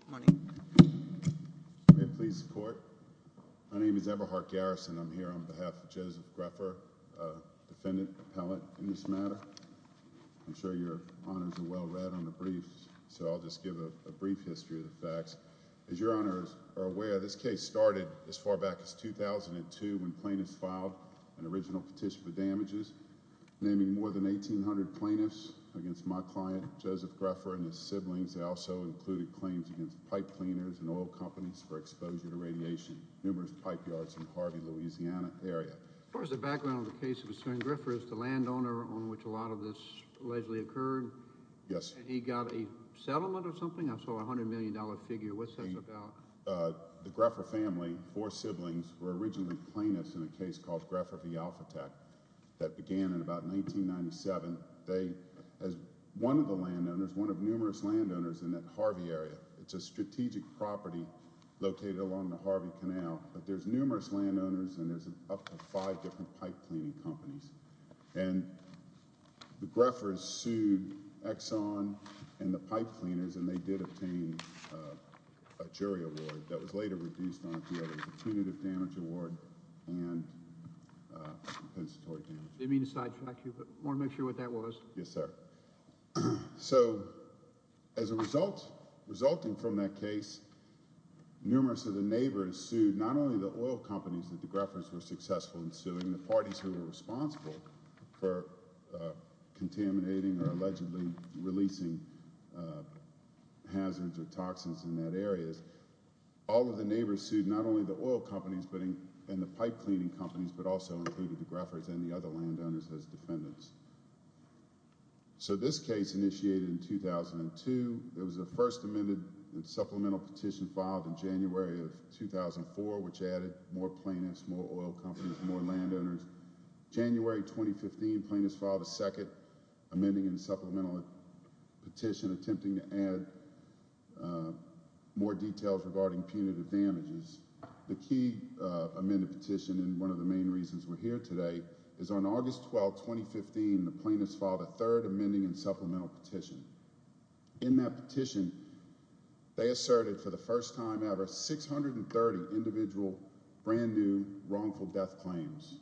Good morning. May it please the court? My name is Eberhardt Garrison. I'm here on behalf of Joseph Greffer, defendant, appellate, in this matter. I'm sure your honors are well read on the briefs, so I'll just give a brief history of the facts. As your honors are aware, this case started as far back as 2002 when plaintiffs filed an original petition for damages, naming more than 1,800 plaintiffs against my client, Joseph Greffer, and his siblings. They also included claims against pipe cleaners and oil companies for exposure to radiation. Numerous pipe yards in Harvey, Louisiana area. As far as the background of the case concerning Greffer, is the landowner on which a lot of this allegedly occurred? Yes. He got a settlement or something? I saw a $100 million figure. What's that about? The Greffer family, four siblings, were originally plaintiffs in a case called Greffer v. Alphateck that began in about 1997. One of the landowners, one of numerous landowners in that Harvey area, it's a strategic property located along the Harvey Canal, but there's numerous landowners and there's up to five different pipe cleaning companies. And the Greffers sued Exxon and the pipe cleaners, and they did obtain a jury award that was later reduced onto a punitive damage award and compensatory damages. Let me just sidetrack you. I want to make sure what that was. Yes, sir. So as a result, resulting from that case, numerous of the neighbors sued not only the oil companies that the Greffers were successful in suing, including the parties who were responsible for contaminating or allegedly releasing hazards or toxins in that area. All of the neighbors sued not only the oil companies and the pipe cleaning companies, but also included the Greffers and the other landowners as defendants. So this case initiated in 2002. It was the first amended supplemental petition filed in January of 2004, which added more plaintiffs, more oil companies, more landowners. January 2015, plaintiffs filed a second amending and supplemental petition attempting to add more details regarding punitive damages. The key amended petition, and one of the main reasons we're here today, is on August 12, 2015, the plaintiffs filed a third amending and supplemental petition. In that petition, they asserted for the first time ever 630 individual brand new wrongful death claims.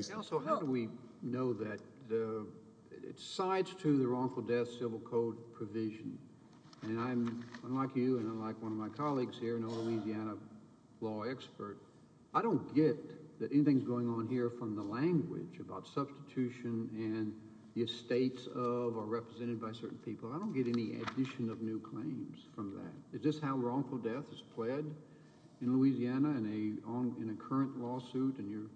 So how do we know that it's sides to the wrongful death civil code provision? And I'm, unlike you and unlike one of my colleagues here, a Louisiana law expert, I don't get that anything's going on here from the language about substitution and the estates of or represented by certain people. I don't get any addition of new claims from that. Is this how wrongful death is pled in Louisiana in a current lawsuit and you're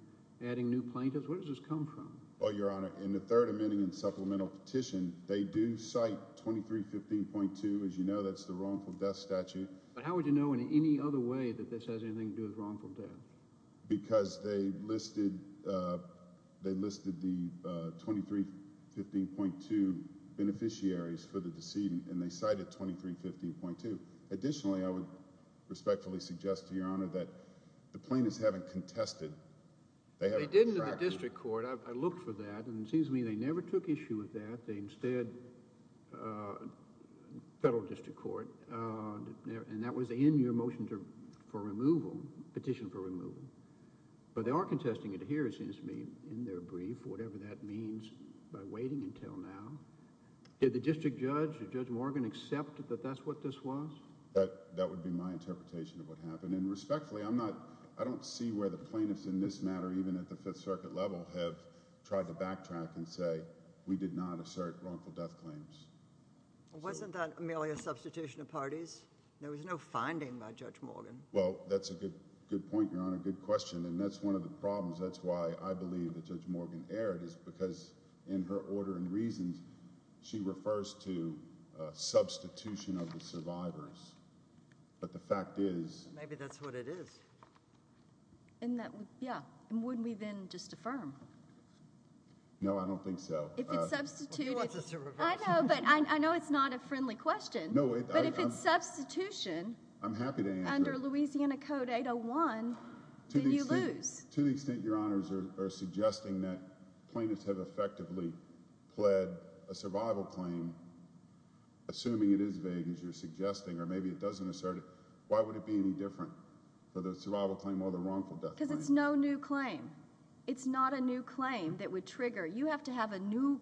adding new plaintiffs? Where does this come from? Well, Your Honor, in the third amending and supplemental petition, they do cite 2315.2. As you know, that's the wrongful death statute. But how would you know in any other way that this has anything to do with wrongful death? Because they listed the 2315.2 beneficiaries for the decedent and they cited 2315.2. Additionally, I would respectfully suggest to Your Honor that the plaintiffs haven't contested. They did in the district court. I looked for that. And it seems to me they never took issue with that. They instead, federal district court, and that was in your motion for removal, petition for removal. But they are contesting it here, it seems to me, in their brief, whatever that means by waiting until now. Did the district judge, Judge Morgan, accept that that's what this was? That would be my interpretation of what happened. And respectfully, I don't see where the plaintiffs in this matter, even at the Fifth Circuit level, have tried to backtrack and say we did not assert wrongful death claims. Wasn't that merely a substitution of parties? There was no finding by Judge Morgan. Well, that's a good point, Your Honor, good question. And that's one of the problems. That's why I believe that Judge Morgan erred is because in her order and reasons, she refers to substitution of the survivors. But the fact is— Maybe that's what it is. Yeah. And wouldn't we then just affirm? No, I don't think so. If it's substituted— Well, she wants us to reverse. I know, but I know it's not a friendly question. No, it— But if it's substitution— I'm happy to answer. —under Louisiana Code 801, then you lose. To the extent Your Honors are suggesting that plaintiffs have effectively pled a survival claim, assuming it is vague, as you're suggesting, or maybe it doesn't assert it, why would it be any different for the survival claim or the wrongful death claim? Because it's no new claim. It's not a new claim that would trigger. You have to have a new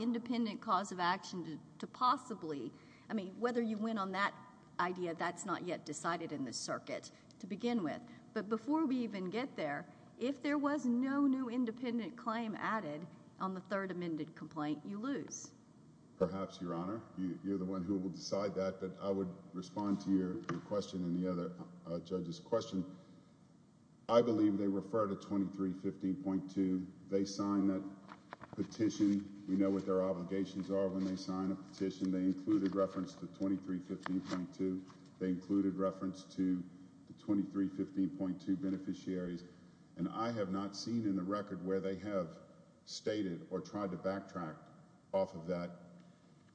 independent cause of action to possibly— I mean, whether you went on that idea, that's not yet decided in this circuit to begin with. But before we even get there, if there was no new independent claim added on the third amended complaint, you lose. Perhaps, Your Honor. You're the one who will decide that. But I would respond to your question and the other judges' question. I believe they refer to 2315.2. They signed that petition. We know what their obligations are when they sign a petition. They included reference to 2315.2. They included reference to the 2315.2 beneficiaries. And I have not seen in the record where they have stated or tried to backtrack off of that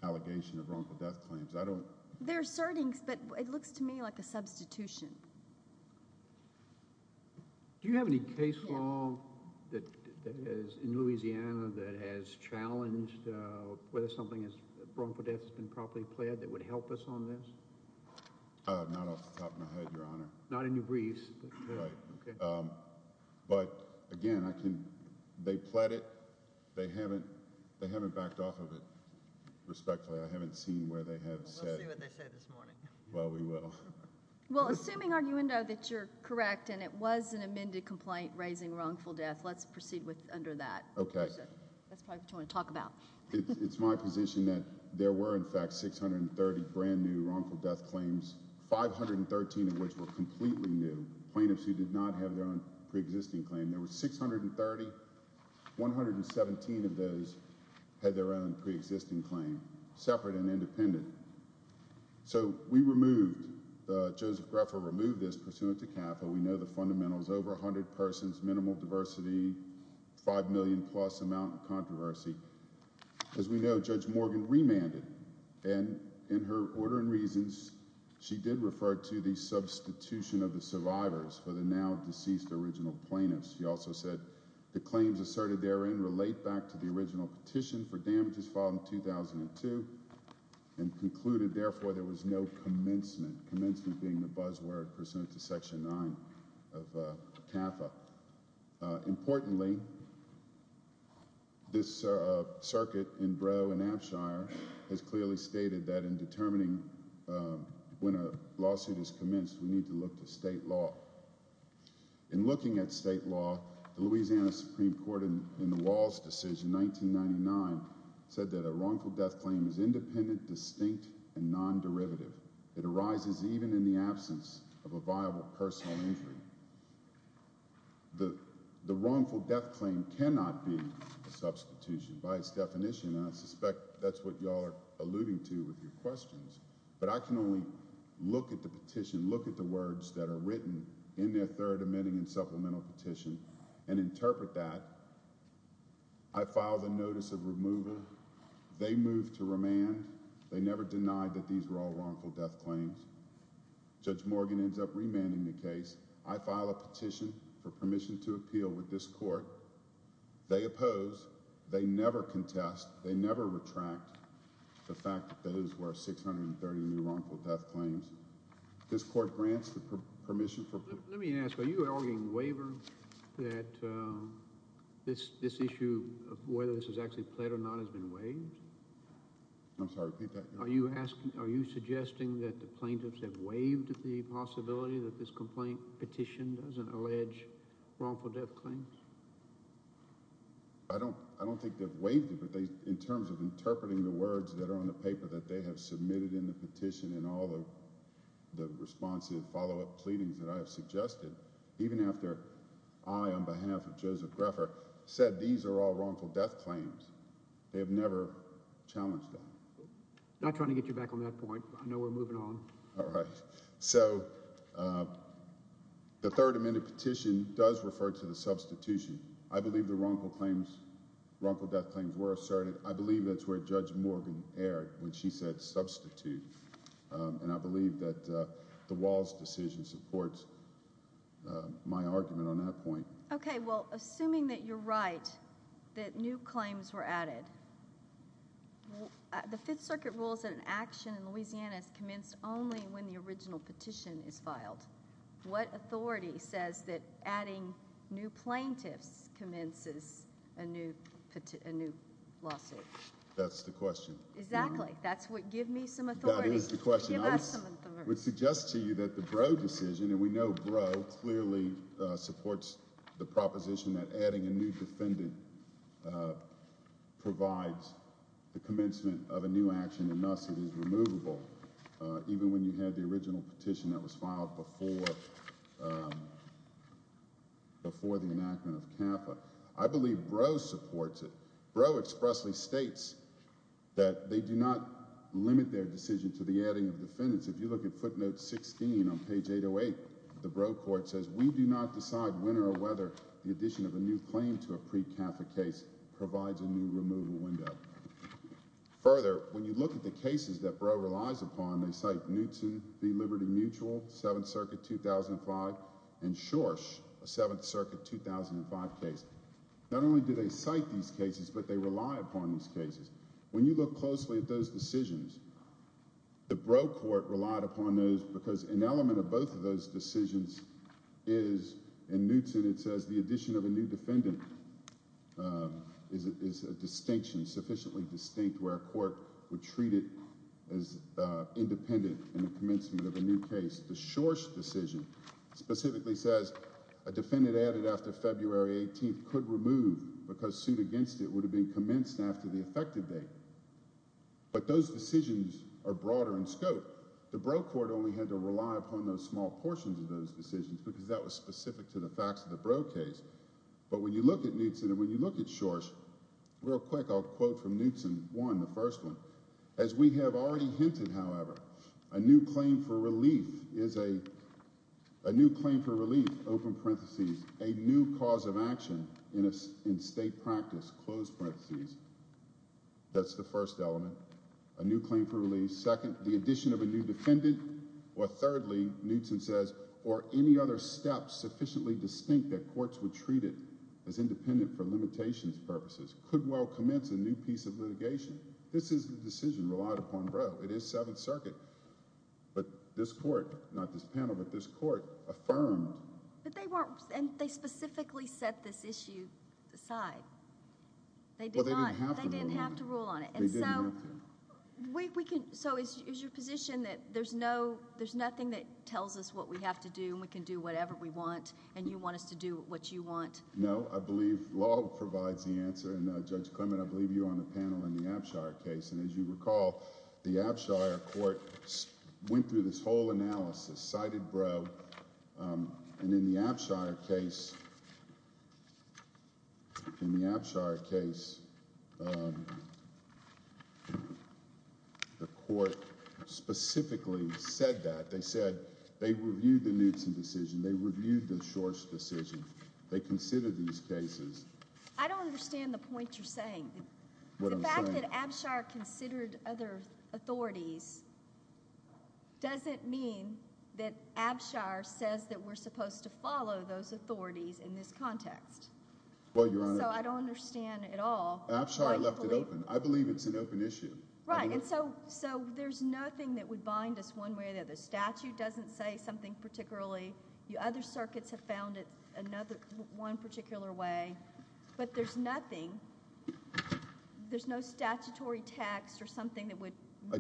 allegation of wrongful death claims. I don't— They're asserting, but it looks to me like a substitution. Do you have any case law in Louisiana that has challenged whether something wrongful death has been properly pled that would help us on this? Not off the top of my head, Your Honor. Not in your briefs. Right. Okay. But, again, I can—they pled it. They haven't backed off of it respectfully. I haven't seen where they have said— We'll see what they say this morning. Well, we will. Well, assuming, Arguendo, that you're correct and it was an amended complaint raising wrongful death, let's proceed under that. Okay. That's probably what you want to talk about. It's my position that there were, in fact, 630 brand-new wrongful death claims, 513 of which were completely new, plaintiffs who did not have their own preexisting claim. There were 630. 117 of those had their own preexisting claim, separate and independent. So we removed—Joseph Greffa removed this pursuant to CAFA. We know the fundamentals. Over 100 persons, minimal diversity, 5 million-plus amount of controversy. As we know, Judge Morgan remanded. And in her order and reasons, she did refer to the substitution of the survivors for the now-deceased original plaintiffs. She also said the claims asserted therein relate back to the original petition for damages filed in 2002 and concluded, therefore, there was no commencement. Commencement being the buzzword pursuant to Section 9 of CAFA. Importantly, this circuit in Brough and Abshire has clearly stated that in determining when a lawsuit is commenced, we need to look to state law. In looking at state law, the Louisiana Supreme Court, in the Walls decision, 1999, said that a wrongful death claim is independent, distinct, and non-derivative. It arises even in the absence of a viable personal injury. The wrongful death claim cannot be a substitution. By its definition, I suspect that's what you all are alluding to with your questions. But I can only look at the petition, look at the words that are written in their third admitting and supplemental petition and interpret that. I filed a notice of remover. They moved to remand. They never denied that these were all wrongful death claims. Judge Morgan ends up remanding the case. I file a petition for permission to appeal with this court. They oppose. They never contest. They never retract the fact that those were 630 new wrongful death claims. This court grants the permission for – Let me ask. Are you arguing waiver that this issue of whether this is actually pled or not has been waived? I'm sorry, repeat that. Are you suggesting that the plaintiffs have waived the possibility that this complaint petition doesn't allege wrongful death claims? I don't think they've waived it, but in terms of interpreting the words that are on the paper that they have submitted in the petition and all the responsive follow-up pleadings that I have suggested, even after I, on behalf of Joseph Greffer, said these are all wrongful death claims, they have never challenged that. I'm not trying to get you back on that point. I know we're moving on. All right. So the third amendment petition does refer to the substitution. I believe the wrongful claims, wrongful death claims were asserted. I believe that's where Judge Morgan erred when she said substitute, and I believe that the Walsh decision supports my argument on that point. Okay. Well, assuming that you're right, that new claims were added, the Fifth Circuit rules that an action in Louisiana is commenced only when the original petition is filed. What authority says that adding new plaintiffs commences a new lawsuit? That's the question. Exactly. That's what give me some authority. That is the question. Give us some authority. I would suggest to you that the Brough decision, and we know Brough clearly supports the proposition that adding a new defendant provides the commencement of a new action and, thus, it is removable, even when you had the original petition that was filed before the enactment of CAFA. I believe Brough supports it. Brough expressly states that they do not limit their decision to the adding of defendants. If you look at footnote 16 on page 808, the Brough court says, we do not decide when or whether the addition of a new claim to a pre-CAFA case provides a new removal window. Further, when you look at the cases that Brough relies upon, they cite Knutson v. Liberty Mutual, Seventh Circuit 2005, and Schorsch, a Seventh Circuit 2005 case. Not only do they cite these cases, but they rely upon these cases. When you look closely at those decisions, the Brough court relied upon those because an element of both of those decisions is, in Knutson it says the addition of a new defendant is a distinction, sufficiently distinct, where a court would treat it as independent in the commencement of a new case. The Schorsch decision specifically says a defendant added after February 18th could remove because suit against it would have been commenced after the effective date. But those decisions are broader in scope. The Brough court only had to rely upon those small portions of those decisions because that was specific to the facts of the Brough case. But when you look at Knutson and when you look at Schorsch, real quick I'll quote from Knutson 1, the first one. As we have already hinted, however, a new claim for relief is a new claim for relief, open parentheses, a new cause of action in state practice, close parentheses. That's the first element, a new claim for relief. Second, the addition of a new defendant. Or thirdly, Knutson says, or any other steps sufficiently distinct that courts would treat it as independent for limitations purposes could well commence a new piece of litigation. This is the decision relied upon Brough. It is Seventh Circuit. But this court, not this panel, but this court affirmed... But they weren't... and they specifically set this issue aside. They did not. Well, they didn't have to rule on it. They didn't have to rule on it. And so... They didn't have to. So is your position that there's nothing that tells us what we have to do and we can do whatever we want and you want us to do what you want? No. I believe law provides the answer. And Judge Clement, I believe you were on the panel in the Abshire case. And as you recall, the Abshire court went through this whole analysis, cited Brough. And in the Abshire case... In the Abshire case, the court specifically said that. They said they reviewed the Knutson decision. They reviewed the Shor's decision. They considered these cases. I don't understand the point you're saying. The fact that Abshire considered other authorities doesn't mean that Abshire says that we're supposed to follow those authorities in this context. Well, Your Honor... So I don't understand at all... Abshire left it open. I believe it's an open issue. Right. And so there's nothing that would bind us one way or the other. The statute doesn't say something particularly. The other circuits have found it one particular way. But there's nothing. There's no statutory text or something that would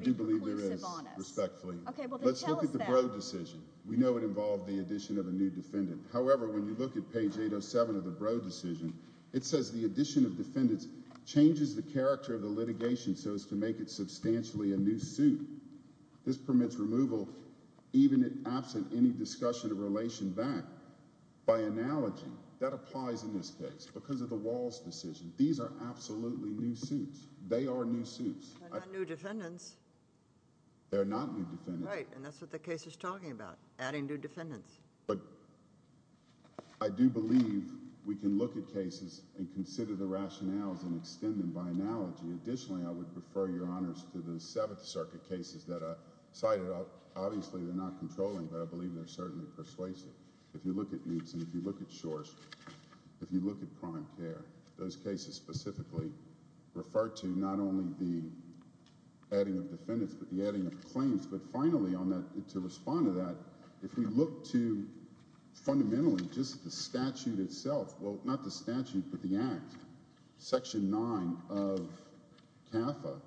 be reclusive on us. I do believe there is, respectfully. Well, then tell us that. Let's look at the Brough decision. We know it involved the addition of a new defendant. However, when you look at page 807 of the Brough decision, it says the addition of defendants changes the character of the litigation so as to make it substantially a new suit. This permits removal even absent any discussion of relation back. By analogy, that applies in this case because of the Walls decision. These are absolutely new suits. They are new suits. They're not new defendants. They're not new defendants. Right. And that's what the case is talking about, adding new defendants. But I do believe we can look at cases and consider the rationales and extend them by analogy. Additionally, I would refer your honors to the Seventh Circuit cases that I cited. Obviously, they're not controlling, but I believe they're certainly persuasive. If you look at these and if you look at Shor's, if you look at prime care, those cases specifically refer to not only the adding of defendants but the adding of claims. But finally, to respond to that, if we look to fundamentally just the statute itself, well, not the statute but the act, Section 9 of CAFA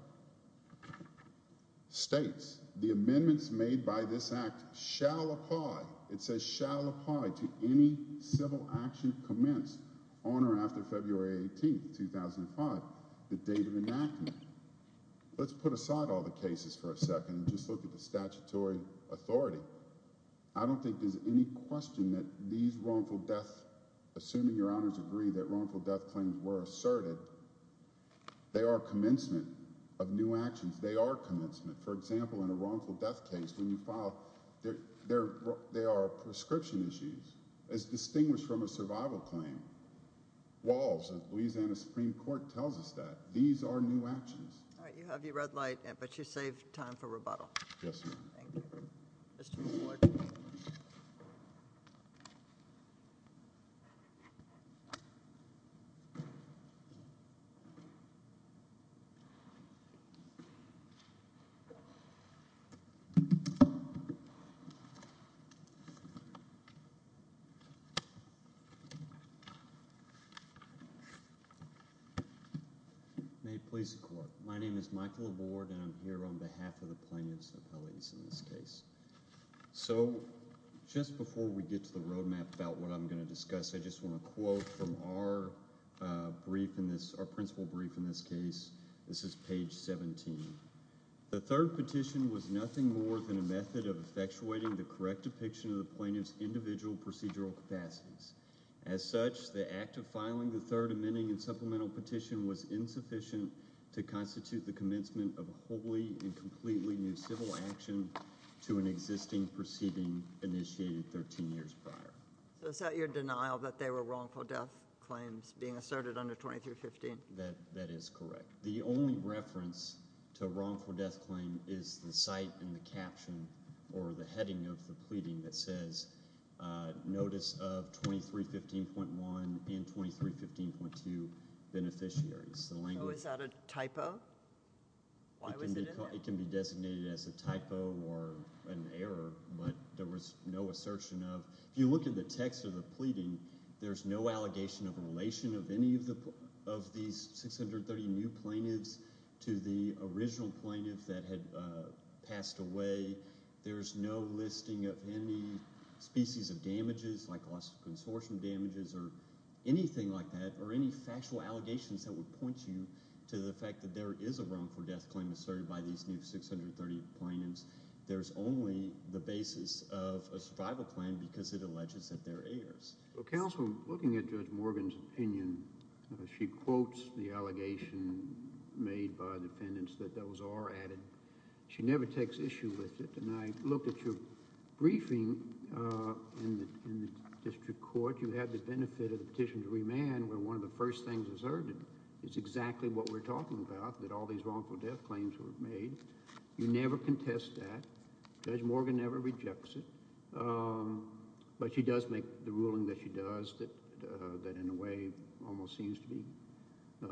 states the amendments made by this act shall apply. It says shall apply to any civil action commenced on or after February 18th, 2005, the date of enactment. Let's put aside all the cases for a second and just look at the statutory authority. I don't think there's any question that these wrongful deaths, assuming your honors agree that wrongful death claims were asserted, they are commencement of new actions. They are commencement. For example, in a wrongful death case, when you file, there are prescription issues as distinguished from a survival claim. Walls of Louisiana Supreme Court tells us that. These are new actions. All right, you have your red light, but you save time for rebuttal. Yes, ma'am. Thank you. Mr. Wood. May it please the court. My name is Michael LaVord, and I'm here on behalf of the plaintiff's appellate in this case. So just before we get to the roadmap about what I'm going to discuss, I just want to quote from our brief in this—our principal brief in this case. This is page 17. The third petition was nothing more than a method of effectuating the correct depiction of the plaintiff's individual procedural capacities. As such, the act of filing the third amending and supplemental petition was insufficient to constitute the commencement of wholly and completely new civil action to an existing proceeding initiated 13 years prior. So is that your denial that they were wrongful death claims being asserted under 2315? That is correct. The only reference to a wrongful death claim is the site in the caption or the heading of the pleading that says notice of 2315.1 and 2315.2 beneficiaries. So is that a typo? Why was it in there? It can be designated as a typo or an error, but there was no assertion of. If you look at the text of the pleading, there's no allegation of a relation of any of these 630 new plaintiffs to the original plaintiff that had passed away. There's no listing of any species of damages like loss of consortium damages or anything like that or any factual allegations that would point you to the fact that there is a wrongful death claim asserted by these new 630 plaintiffs. There's only the basis of a survival plan because it alleges that they're heirs. Well, counsel, looking at Judge Morgan's opinion, she quotes the allegation made by the defendants that those are added. She never takes issue with it, and I looked at your briefing in the district court. You had the benefit of the petition to remand where one of the first things asserted is exactly what we're talking about, that all these wrongful death claims were made. You never contest that. Judge Morgan never rejects it, but she does make the ruling that she does that in a way almost seems to be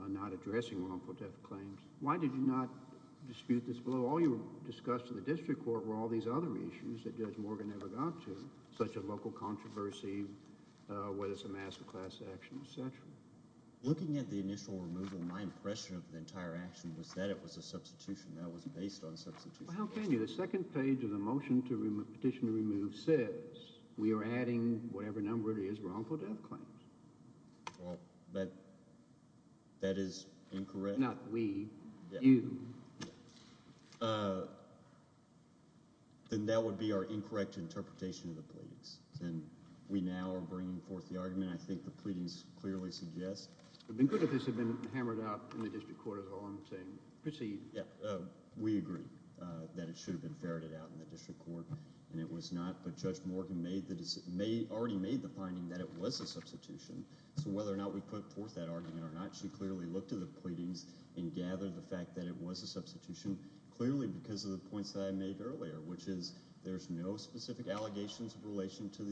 not addressing wrongful death claims. Why did you not dispute this below? All you discussed in the district court were all these other issues that Judge Morgan never got to, such as local controversy, whether it's a master class action, etc. Looking at the initial removal, my impression of the entire action was that it was a substitution. That was based on substitution. Well, how can you? The second page of the motion to petition to remove says we are adding whatever number it is, wrongful death claims. Well, that is incorrect. Not we. You. Then that would be our incorrect interpretation of the pleadings. We now are bringing forth the argument. I think the pleadings clearly suggest— It would have been good if this had been hammered out in the district court as a whole and saying proceed. We agree that it should have been ferreted out in the district court, and it was not. But Judge Morgan already made the finding that it was a substitution. So whether or not we put forth that argument or not, she clearly looked at the pleadings and gathered the fact that it was a substitution, clearly because of the points that I made earlier, which is there's no specific allegations of relation to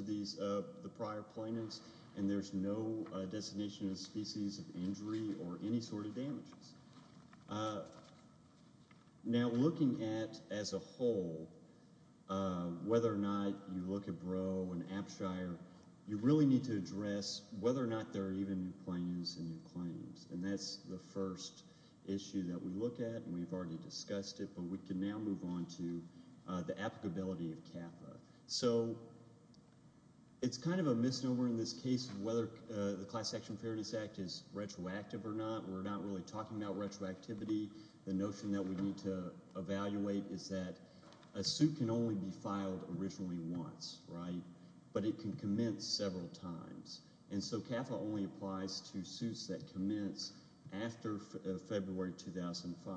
the prior plaintiffs, and there's no designation of species of injury or any sort of damages. Now looking at, as a whole, whether or not you look at Brough and Apshire, you really need to address whether or not there are even new plaintiffs and new claims. And that's the first issue that we look at, and we've already discussed it, but we can now move on to the applicability of CAFA. So it's kind of a misnomer in this case whether the Class Action Fairness Act is retroactive or not. We're not really talking about retroactivity. The notion that we need to evaluate is that a suit can only be filed originally once, but it can commence several times. And so CAFA only applies to suits that commence after February 2005,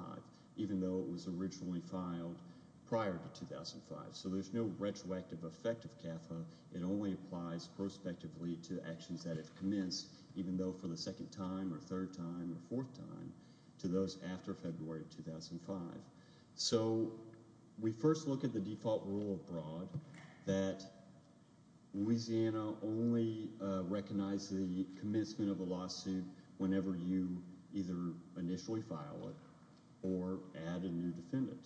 even though it was originally filed prior to 2005. So there's no retroactive effect of CAFA. It only applies prospectively to actions that have commenced, even though for the second time or third time or fourth time, to those after February 2005. So we first look at the default rule of Brough that Louisiana only recognizes the commencement of a lawsuit whenever you either initially file it or add a new defendant.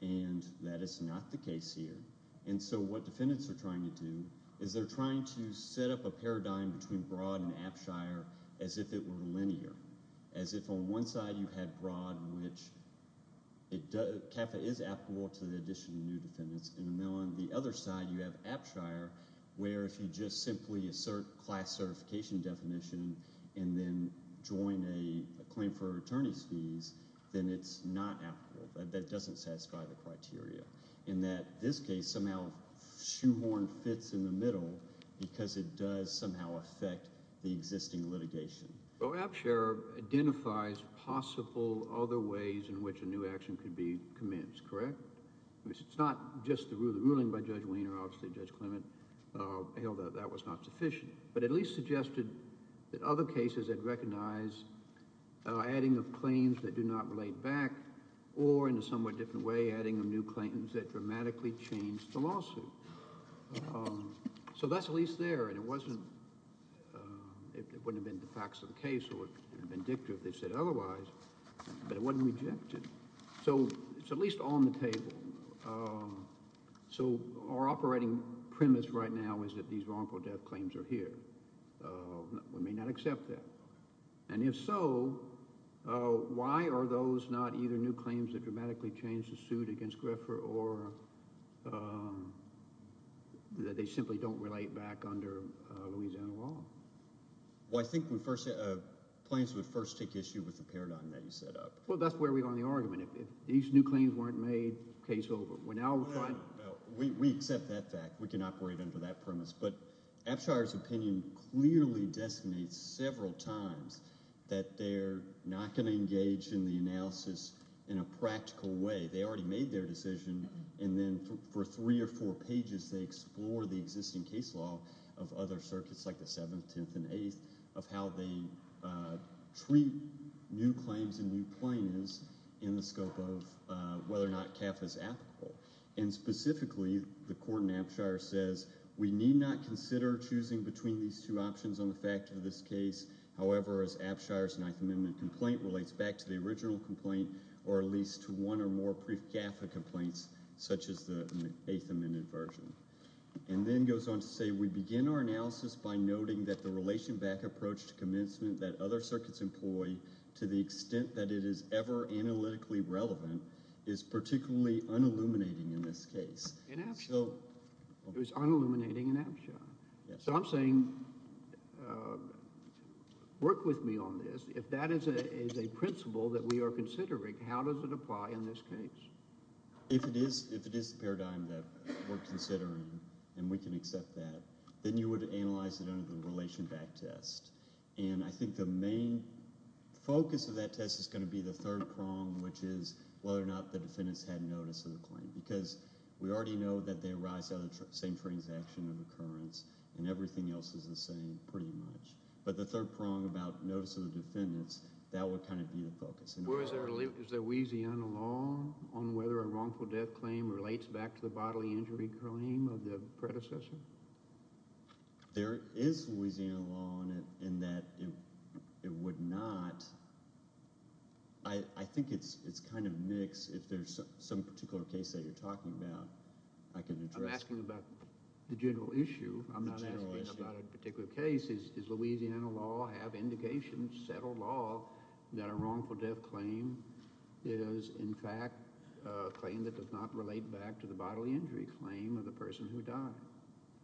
And that is not the case here. And so what defendants are trying to do is they're trying to set up a paradigm between Brough and Apshire as if it were linear, as if on one side you had Brough in which CAFA is applicable to the addition of new defendants, and on the other side you have Apshire where if you just simply assert class certification definition and then join a claim for attorney's fees, then it's not applicable. That doesn't satisfy the criteria in that this case somehow shoehorned fits in the middle because it does somehow affect the existing litigation. Well, Apshire identifies possible other ways in which a new action could be commenced, correct? It's not just the ruling by Judge Wiener, obviously Judge Clement held that that was not sufficient, but at least suggested that other cases had recognized adding of claims that do not relate back or, in a somewhat different way, adding a new claim that dramatically changed the lawsuit. So that's at least there. And it wasn't, it wouldn't have been the facts of the case or vindictive if they said otherwise, but it wasn't rejected. So it's at least on the table. So our operating premise right now is that these wrongful death claims are here. We may not accept that. And if so, why are those not either new claims that dramatically changed the suit against Griffer or that they simply don't relate back under Louisiana law? Well, I think we first, claims would first take issue with the paradigm that you set up. Well, that's where we are on the argument. If these new claims weren't made, case over. We accept that fact. We can operate under that premise. But Abshire's opinion clearly designates several times that they're not going to engage in the analysis in a practical way. They already made their decision, and then for three or four pages they explore the existing case law of other circuits like the 7th, 10th, and 8th, of how they treat new claims and new plaintiffs in the scope of whether or not CAFA is applicable. And specifically, the court in Abshire says we need not consider choosing between these two options on the fact of this case. However, as Abshire's 9th Amendment complaint relates back to the original complaint or at least to one or more brief CAFA complaints such as the 8th Amendment version. And then goes on to say we begin our analysis by noting that the relation back approach to commencement that other circuits employ to the extent that it is ever analytically relevant is particularly unilluminating in this case. In Abshire. It was unilluminating in Abshire. So I'm saying work with me on this. If that is a principle that we are considering, how does it apply in this case? If it is the paradigm that we're considering, and we can accept that, then you would analyze it under the relation back test. And I think the main focus of that test is going to be the third prong, which is whether or not the defendants had notice of the claim. Because we already know that they arise out of the same transaction of occurrence, and everything else is the same pretty much. But the third prong about notice of the defendants, that would kind of be the focus. Is there Louisiana law on whether a wrongful death claim relates back to the bodily injury claim of the predecessor? There is Louisiana law on it in that it would not. I think it's kind of mixed. If there's some particular case that you're talking about, I can address that. I'm asking about the general issue. I'm not asking about a particular case. Does Louisiana law have indications, settled law, that a wrongful death claim is, in fact, a claim that does not relate back to the bodily injury claim of the person who died?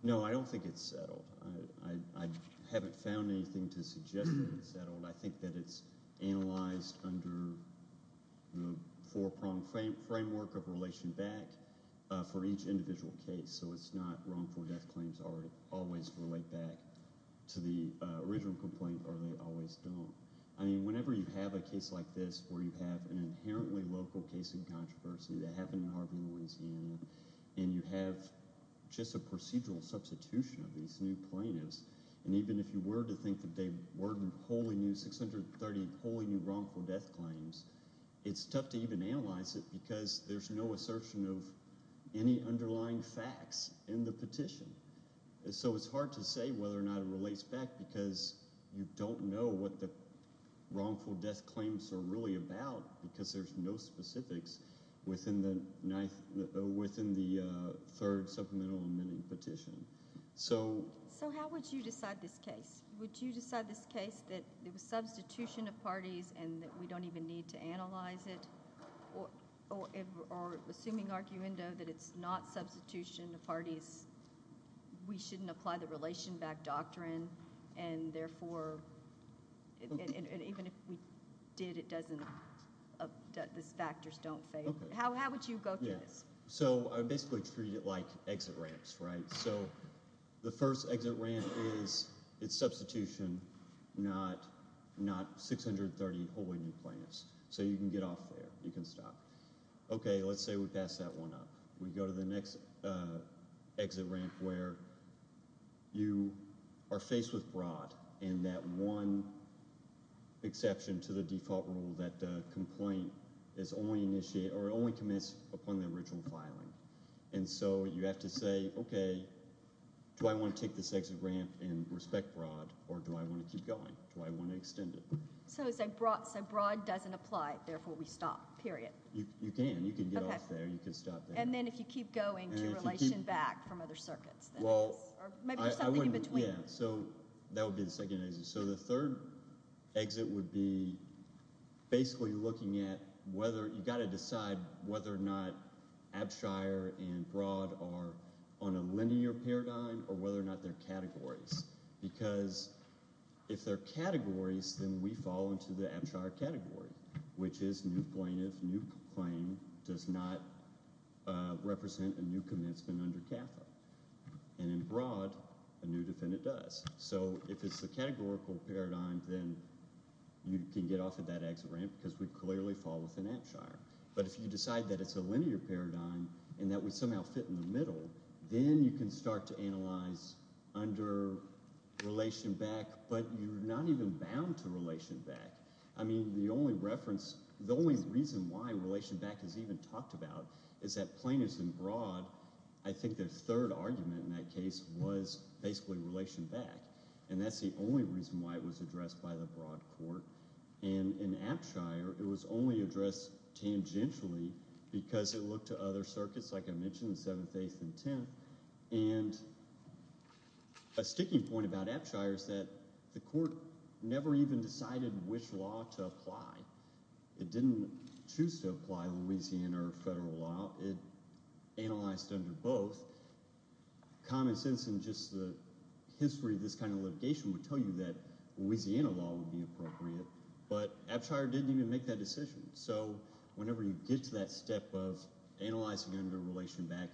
No, I don't think it's settled. I haven't found anything to suggest that it's settled. I think that it's analyzed under the four-prong framework of relation back for each individual case. So it's not wrongful death claims always relate back to the original complaint or they always don't. I mean whenever you have a case like this where you have an inherently local case in controversy that happened in Harbin, Louisiana, and you have just a procedural substitution of these new plaintiffs, and even if you were to think that they worded 638 wholly new wrongful death claims, it's tough to even analyze it because there's no assertion of any underlying facts in the petition. So it's hard to say whether or not it relates back because you don't know what the wrongful death claims are really about because there's no specifics within the third supplemental amending petition. So how would you decide this case? Would you decide this case that it was substitution of parties and that we don't even need to analyze it or assuming arguendo that it's not substitution of parties, we shouldn't apply the relation back doctrine, and therefore even if we did, the factors don't fade? How would you go through this? So I basically treat it like exit ramps, right? So the first exit ramp is it's substitution, not 638 wholly new plaintiffs. So you can get off there. You can stop. Okay, let's say we pass that one up. We go to the next exit ramp where you are faced with broad and that one exception to the default rule that complaint is only initiated or only commits upon the original filing. And so you have to say, okay, do I want to take this exit ramp and respect broad or do I want to keep going? Do I want to extend it? So broad doesn't apply, therefore we stop, period. You can. You can get off there. You can stop there. And then if you keep going, do you relation back from other circuits? Or maybe there's something in between. Yeah, so that would be the second exit. So the third exit would be basically looking at whether you've got to decide whether or not Abshire and broad are on a linear paradigm or whether or not they're categories. Because if they're categories, then we fall into the Abshire category, which is new plaintiff, new claim, does not represent a new commencement under CAFA. And in broad, a new defendant does. So if it's a categorical paradigm, then you can get off at that exit ramp because we clearly fall within Abshire. But if you decide that it's a linear paradigm and that we somehow fit in the middle, then you can start to analyze under relation back, but you're not even bound to relation back. I mean the only reference, the only reason why relation back is even talked about is that plaintiffs in broad, I think their third argument in that case was basically relation back, and that's the only reason why it was addressed by the broad court. And in Abshire, it was only addressed tangentially because it looked to other circuits, like I mentioned, the seventh, eighth, and tenth. And a sticking point about Abshire is that the court never even decided which law to apply. It didn't choose to apply Louisiana or federal law. It analyzed under both. Common sense in just the history of this kind of litigation would tell you that Louisiana law would be appropriate, but Abshire didn't even make that decision. So whenever you get to that step of analyzing under relation back,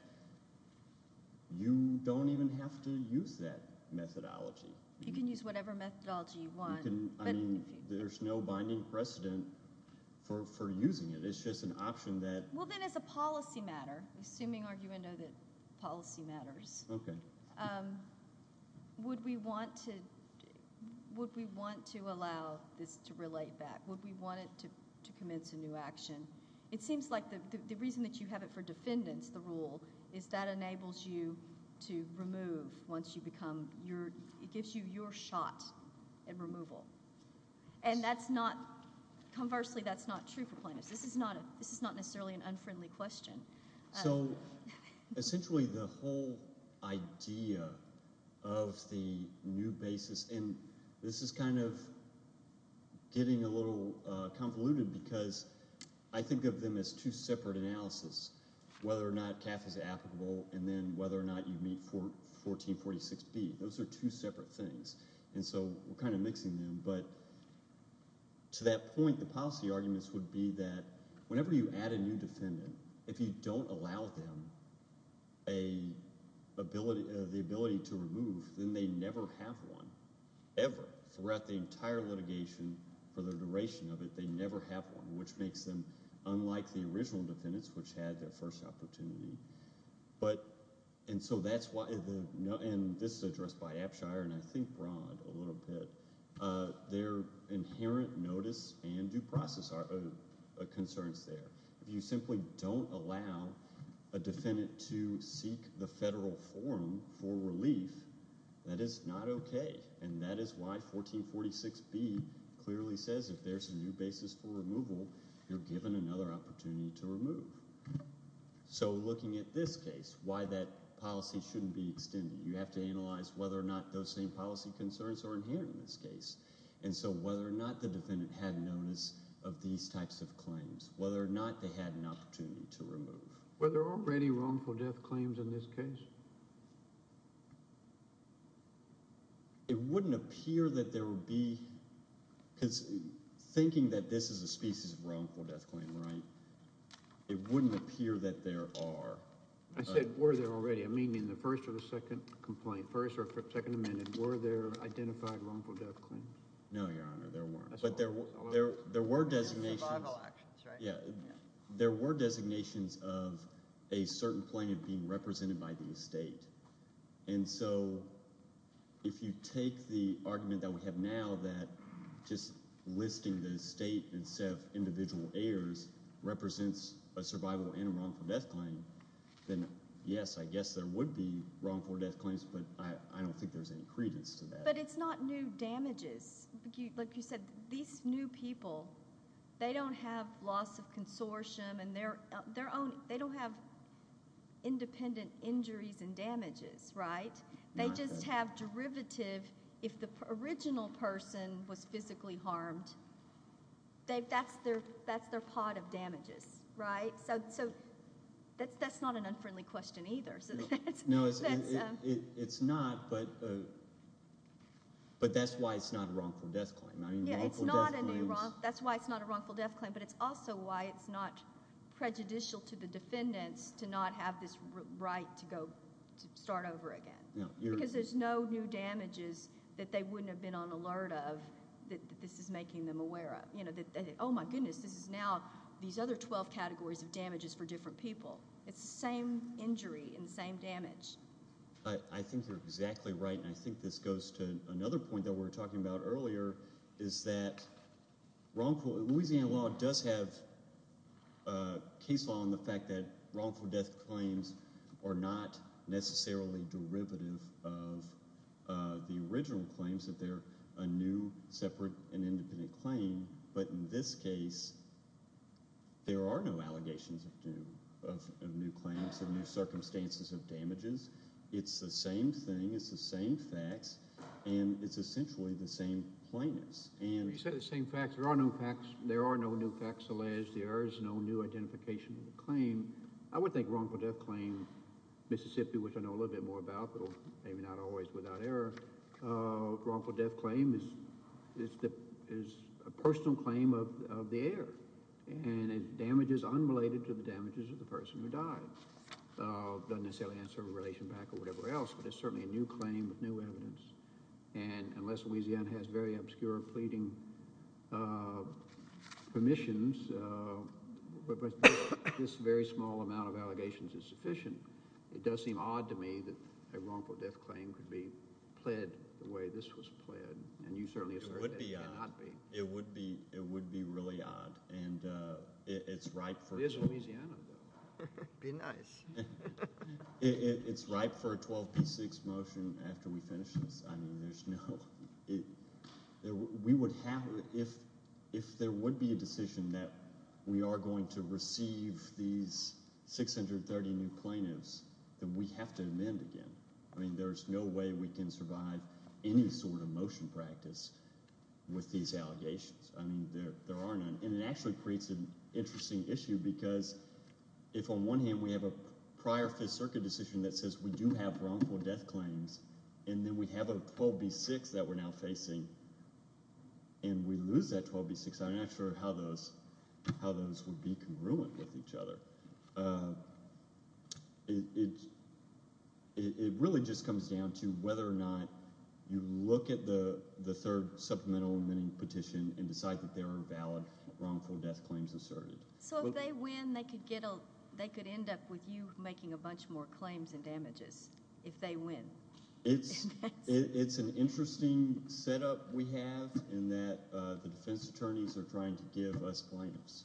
you don't even have to use that methodology. You can use whatever methodology you want. I mean there's no binding precedent for using it. It's just an option that— Well, then as a policy matter, assuming argument of the policy matters, would we want to allow this to relate back? Would we want it to commence a new action? It seems like the reason that you have it for defendants, the rule, is that enables you to remove once you become your—it gives you your shot at removal. And that's not—conversely, that's not true for plaintiffs. This is not necessarily an unfriendly question. So essentially the whole idea of the new basis—and this is kind of getting a little convoluted because I think of them as two separate analysis, whether or not CAF is applicable and then whether or not you meet 1446B. Those are two separate things, and so we're kind of mixing them. But to that point, the policy arguments would be that whenever you add a new defendant, if you don't allow them the ability to remove, then they never have one, ever. Throughout the entire litigation, for the duration of it, they never have one, which makes them unlike the original defendants, which had their first opportunity. But—and so that's why—and this is addressed by Apshire and I think Broad a little bit. Their inherent notice and due process concerns there. If you simply don't allow a defendant to seek the federal forum for relief, that is not okay. And that is why 1446B clearly says if there's a new basis for removal, you're given another opportunity to remove. So looking at this case, why that policy shouldn't be extended. You have to analyze whether or not those same policy concerns are inherent in this case. And so whether or not the defendant had notice of these types of claims, whether or not they had an opportunity to remove. Were there already wrongful death claims in this case? It wouldn't appear that there would be because thinking that this is a species of wrongful death claim, right? It wouldn't appear that there are. I said were there already. I mean in the first or the second complaint, first or second amendment, were there identified wrongful death claims? No, Your Honor, there weren't. But there were designations of a certain claim being represented by the estate. And so if you take the argument that we have now that just listing the estate instead of individual heirs represents a survival and a wrongful death claim, then yes, I guess there would be wrongful death claims, but I don't think there's any credence to that. But it's not new damages. Like you said, these new people, they don't have loss of consortium and they don't have independent injuries and damages, right? They just have derivative. If the original person was physically harmed, that's their pot of damages, right? So that's not an unfriendly question either. No, it's not, but that's why it's not a wrongful death claim. I mean wrongful death claims. That's why it's not a wrongful death claim, but it's also why it's not prejudicial to the defendants to not have this right to go start over again. Because there's no new damages that they wouldn't have been on alert of that this is making them aware of. Oh my goodness, this is now these other 12 categories of damages for different people. It's the same injury and the same damage. I think you're exactly right, and I think this goes to another point that we were talking about earlier, is that Louisiana law does have case law on the fact that wrongful death claims are not necessarily derivative of the original claims, that they're a new, separate, and independent claim. But in this case, there are no allegations of new claims, of new circumstances of damages. It's the same thing, it's the same facts, and it's essentially the same plainness. You said the same facts. There are no new facts, alas, there is no new identification of the claim. I would think wrongful death claim, Mississippi, which I know a little bit more about, but maybe not always without error, wrongful death claim is a personal claim of the heir, and it's damages unrelated to the damages of the person who died. It doesn't necessarily answer a relation back or whatever else, but it's certainly a new claim with new evidence. And unless Louisiana has very obscure pleading permissions, this very small amount of allegations is sufficient. It does seem odd to me that a wrongful death claim could be pled the way this was pled, and you certainly assert that it cannot be. It would be really odd, and it's ripe for a 12p6 motion after we finish this. If there would be a decision that we are going to receive these 630 new plaintiffs, then we have to amend again. There's no way we can survive any sort of motion practice with these allegations. There are none, and it actually creates an interesting issue because if on one hand we have a prior Fifth Circuit decision that says we do have wrongful death claims and then we have a 12b6 that we're now facing and we lose that 12b6, I'm not sure how those would be congruent with each other. It really just comes down to whether or not you look at the third supplemental amending petition and decide that there are valid wrongful death claims asserted. If they win, they could end up with you making a bunch more claims and damages if they win. It's an interesting setup we have in that the defense attorneys are trying to give us plaintiffs,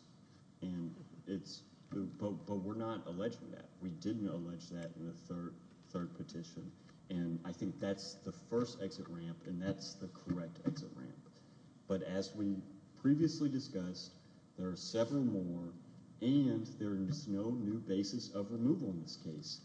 but we're not alleging that. We didn't allege that in the third petition, and I think that's the first exit ramp, and that's the correct exit ramp. As we previously discussed, there are several more, and there is no new basis of removal in this case.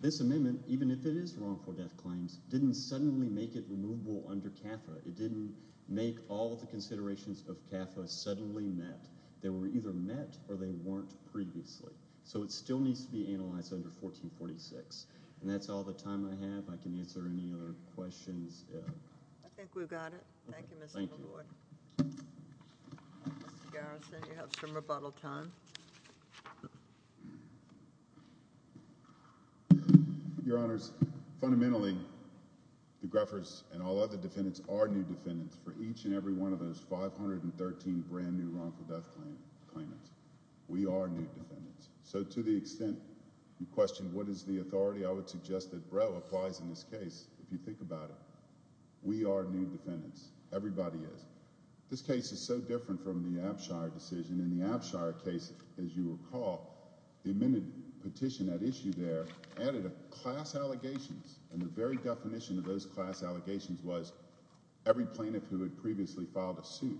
This amendment, even if it is wrongful death claims, didn't suddenly make it removable under CAFA. It didn't make all of the considerations of CAFA suddenly met. They were either met or they weren't previously, so it still needs to be analyzed under 1446. That's all the time I have. I can answer any other questions. I think we've got it. Thank you, Mr. McGord. Mr. Garrison, you have some rebuttal time. Your Honors, fundamentally, the Greffers and all other defendants are new defendants. For each and every one of those 513 brand new wrongful death claimants, we are new defendants. So to the extent you question what is the authority, I would suggest that Breau applies in this case. If you think about it, we are new defendants. Everybody is. This case is so different from the Abshire decision. In the Abshire case, as you recall, the amended petition at issue there added a class allegations, and the very definition of those class allegations was every plaintiff who had previously filed a suit.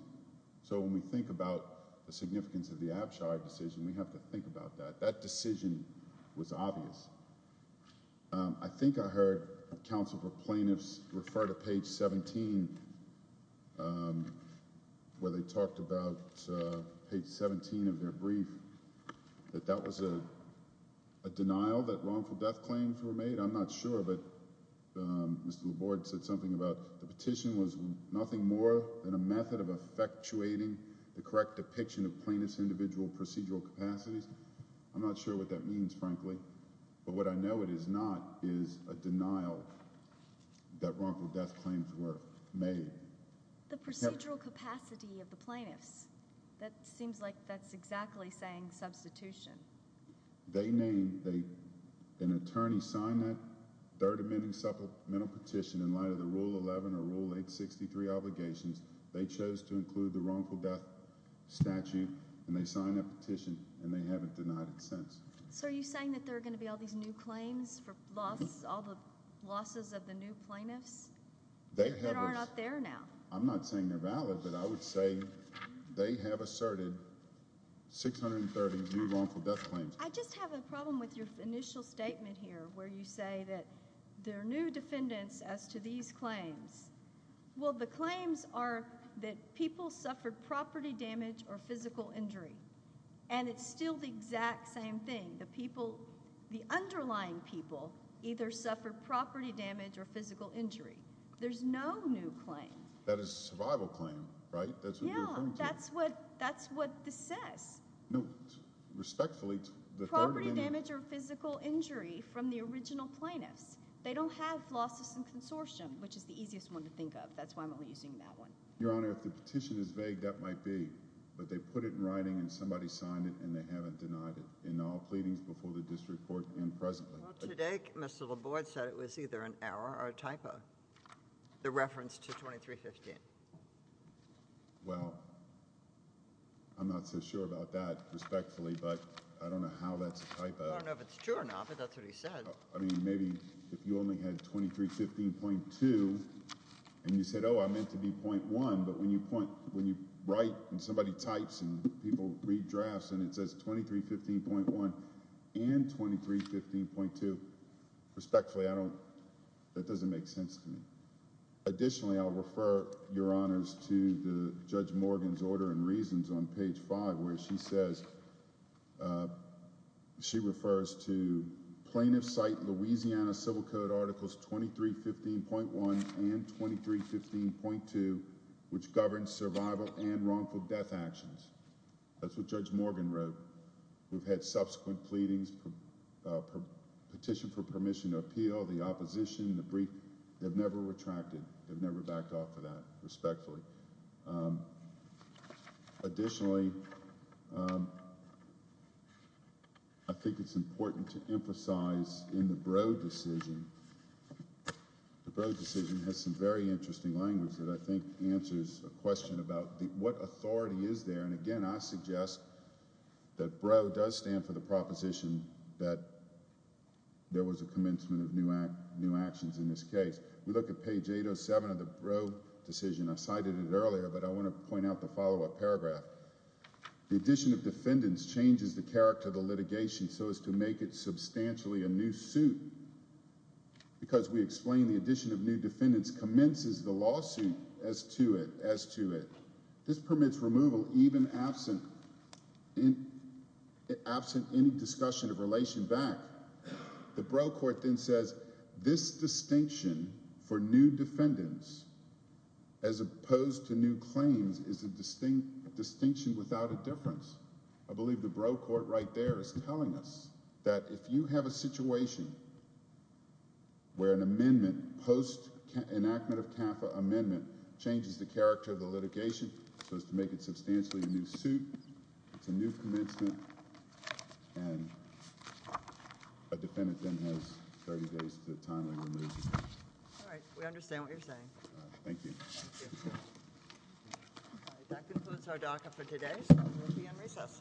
So when we think about the significance of the Abshire decision, we have to think about that. That decision was obvious. I think I heard counsel for plaintiffs refer to page 17, where they talked about page 17 of their brief, that that was a denial that wrongful death claims were made. I'm not sure, but Mr. Laborde said something about the petition was nothing more than a method of effectuating the correct depiction of plaintiff's individual procedural capacities. I'm not sure what that means, frankly, but what I know it is not is a denial that wrongful death claims were made. The procedural capacity of the plaintiffs. That seems like that's exactly saying substitution. They named an attorney, signed that third amending supplemental petition in light of the Rule 11 or Rule 863 obligations. They chose to include the wrongful death statute, and they signed that petition, and they haven't denied it since. So are you saying that there are going to be all these new claims for all the losses of the new plaintiffs? They are not there now. I'm not saying they're valid, but I would say they have asserted 630 new wrongful death claims. I just have a problem with your initial statement here, where you say that there are new defendants as to these claims. Well, the claims are that people suffered property damage or physical injury, and it's still the exact same thing. The underlying people either suffered property damage or physical injury. There's no new claim. That is a survival claim, right? Yeah, that's what this says. Respectfully, the third amendment— Property damage or physical injury from the original plaintiffs. They don't have losses in consortium, which is the easiest one to think of. That's why I'm only using that one. Your Honor, if the petition is vague, that might be. But they put it in writing, and somebody signed it, and they haven't denied it in all pleadings before the district court and presently. Well, today Mr. Laborde said it was either an error or a typo, the reference to 2315. Well, I'm not so sure about that, respectfully, but I don't know how that's a typo. I don't know if it's true or not, but that's what he said. I mean, maybe if you only had 2315.2 and you said, oh, I meant to be .1, but when you write and somebody types and people read drafts and it says 2315.1 and 2315.2, respectfully, I don't—that doesn't make sense to me. Additionally, I'll refer, Your Honors, to Judge Morgan's order and reasons on page 5, where she says— she refers to plaintiff's cite Louisiana Civil Code articles 2315.1 and 2315.2, which govern survival and wrongful death actions. That's what Judge Morgan wrote. We've had subsequent pleadings, petition for permission to appeal, the opposition, the brief. They've never retracted. They've never backed off of that, respectfully. Additionally, I think it's important to emphasize in the Broad decision— and again, I suggest that BRO does stand for the proposition that there was a commencement of new actions in this case. We look at page 807 of the BRO decision. I cited it earlier, but I want to point out the follow-up paragraph. The addition of defendants changes the character of the litigation so as to make it substantially a new suit, because we explain the addition of new defendants commences the lawsuit as to it. This permits removal even absent any discussion of relation back. The BRO court then says this distinction for new defendants as opposed to new claims is a distinction without a difference. I believe the BRO court right there is telling us that if you have a situation where an amendment, post-enactment of TAFAA amendment, changes the character of the litigation so as to make it substantially a new suit, it's a new commencement, and a defendant then has 30 days to timely remove. All right. We understand what you're saying. Thank you. Thank you. All right. That concludes our docket for today, so we'll be in recess.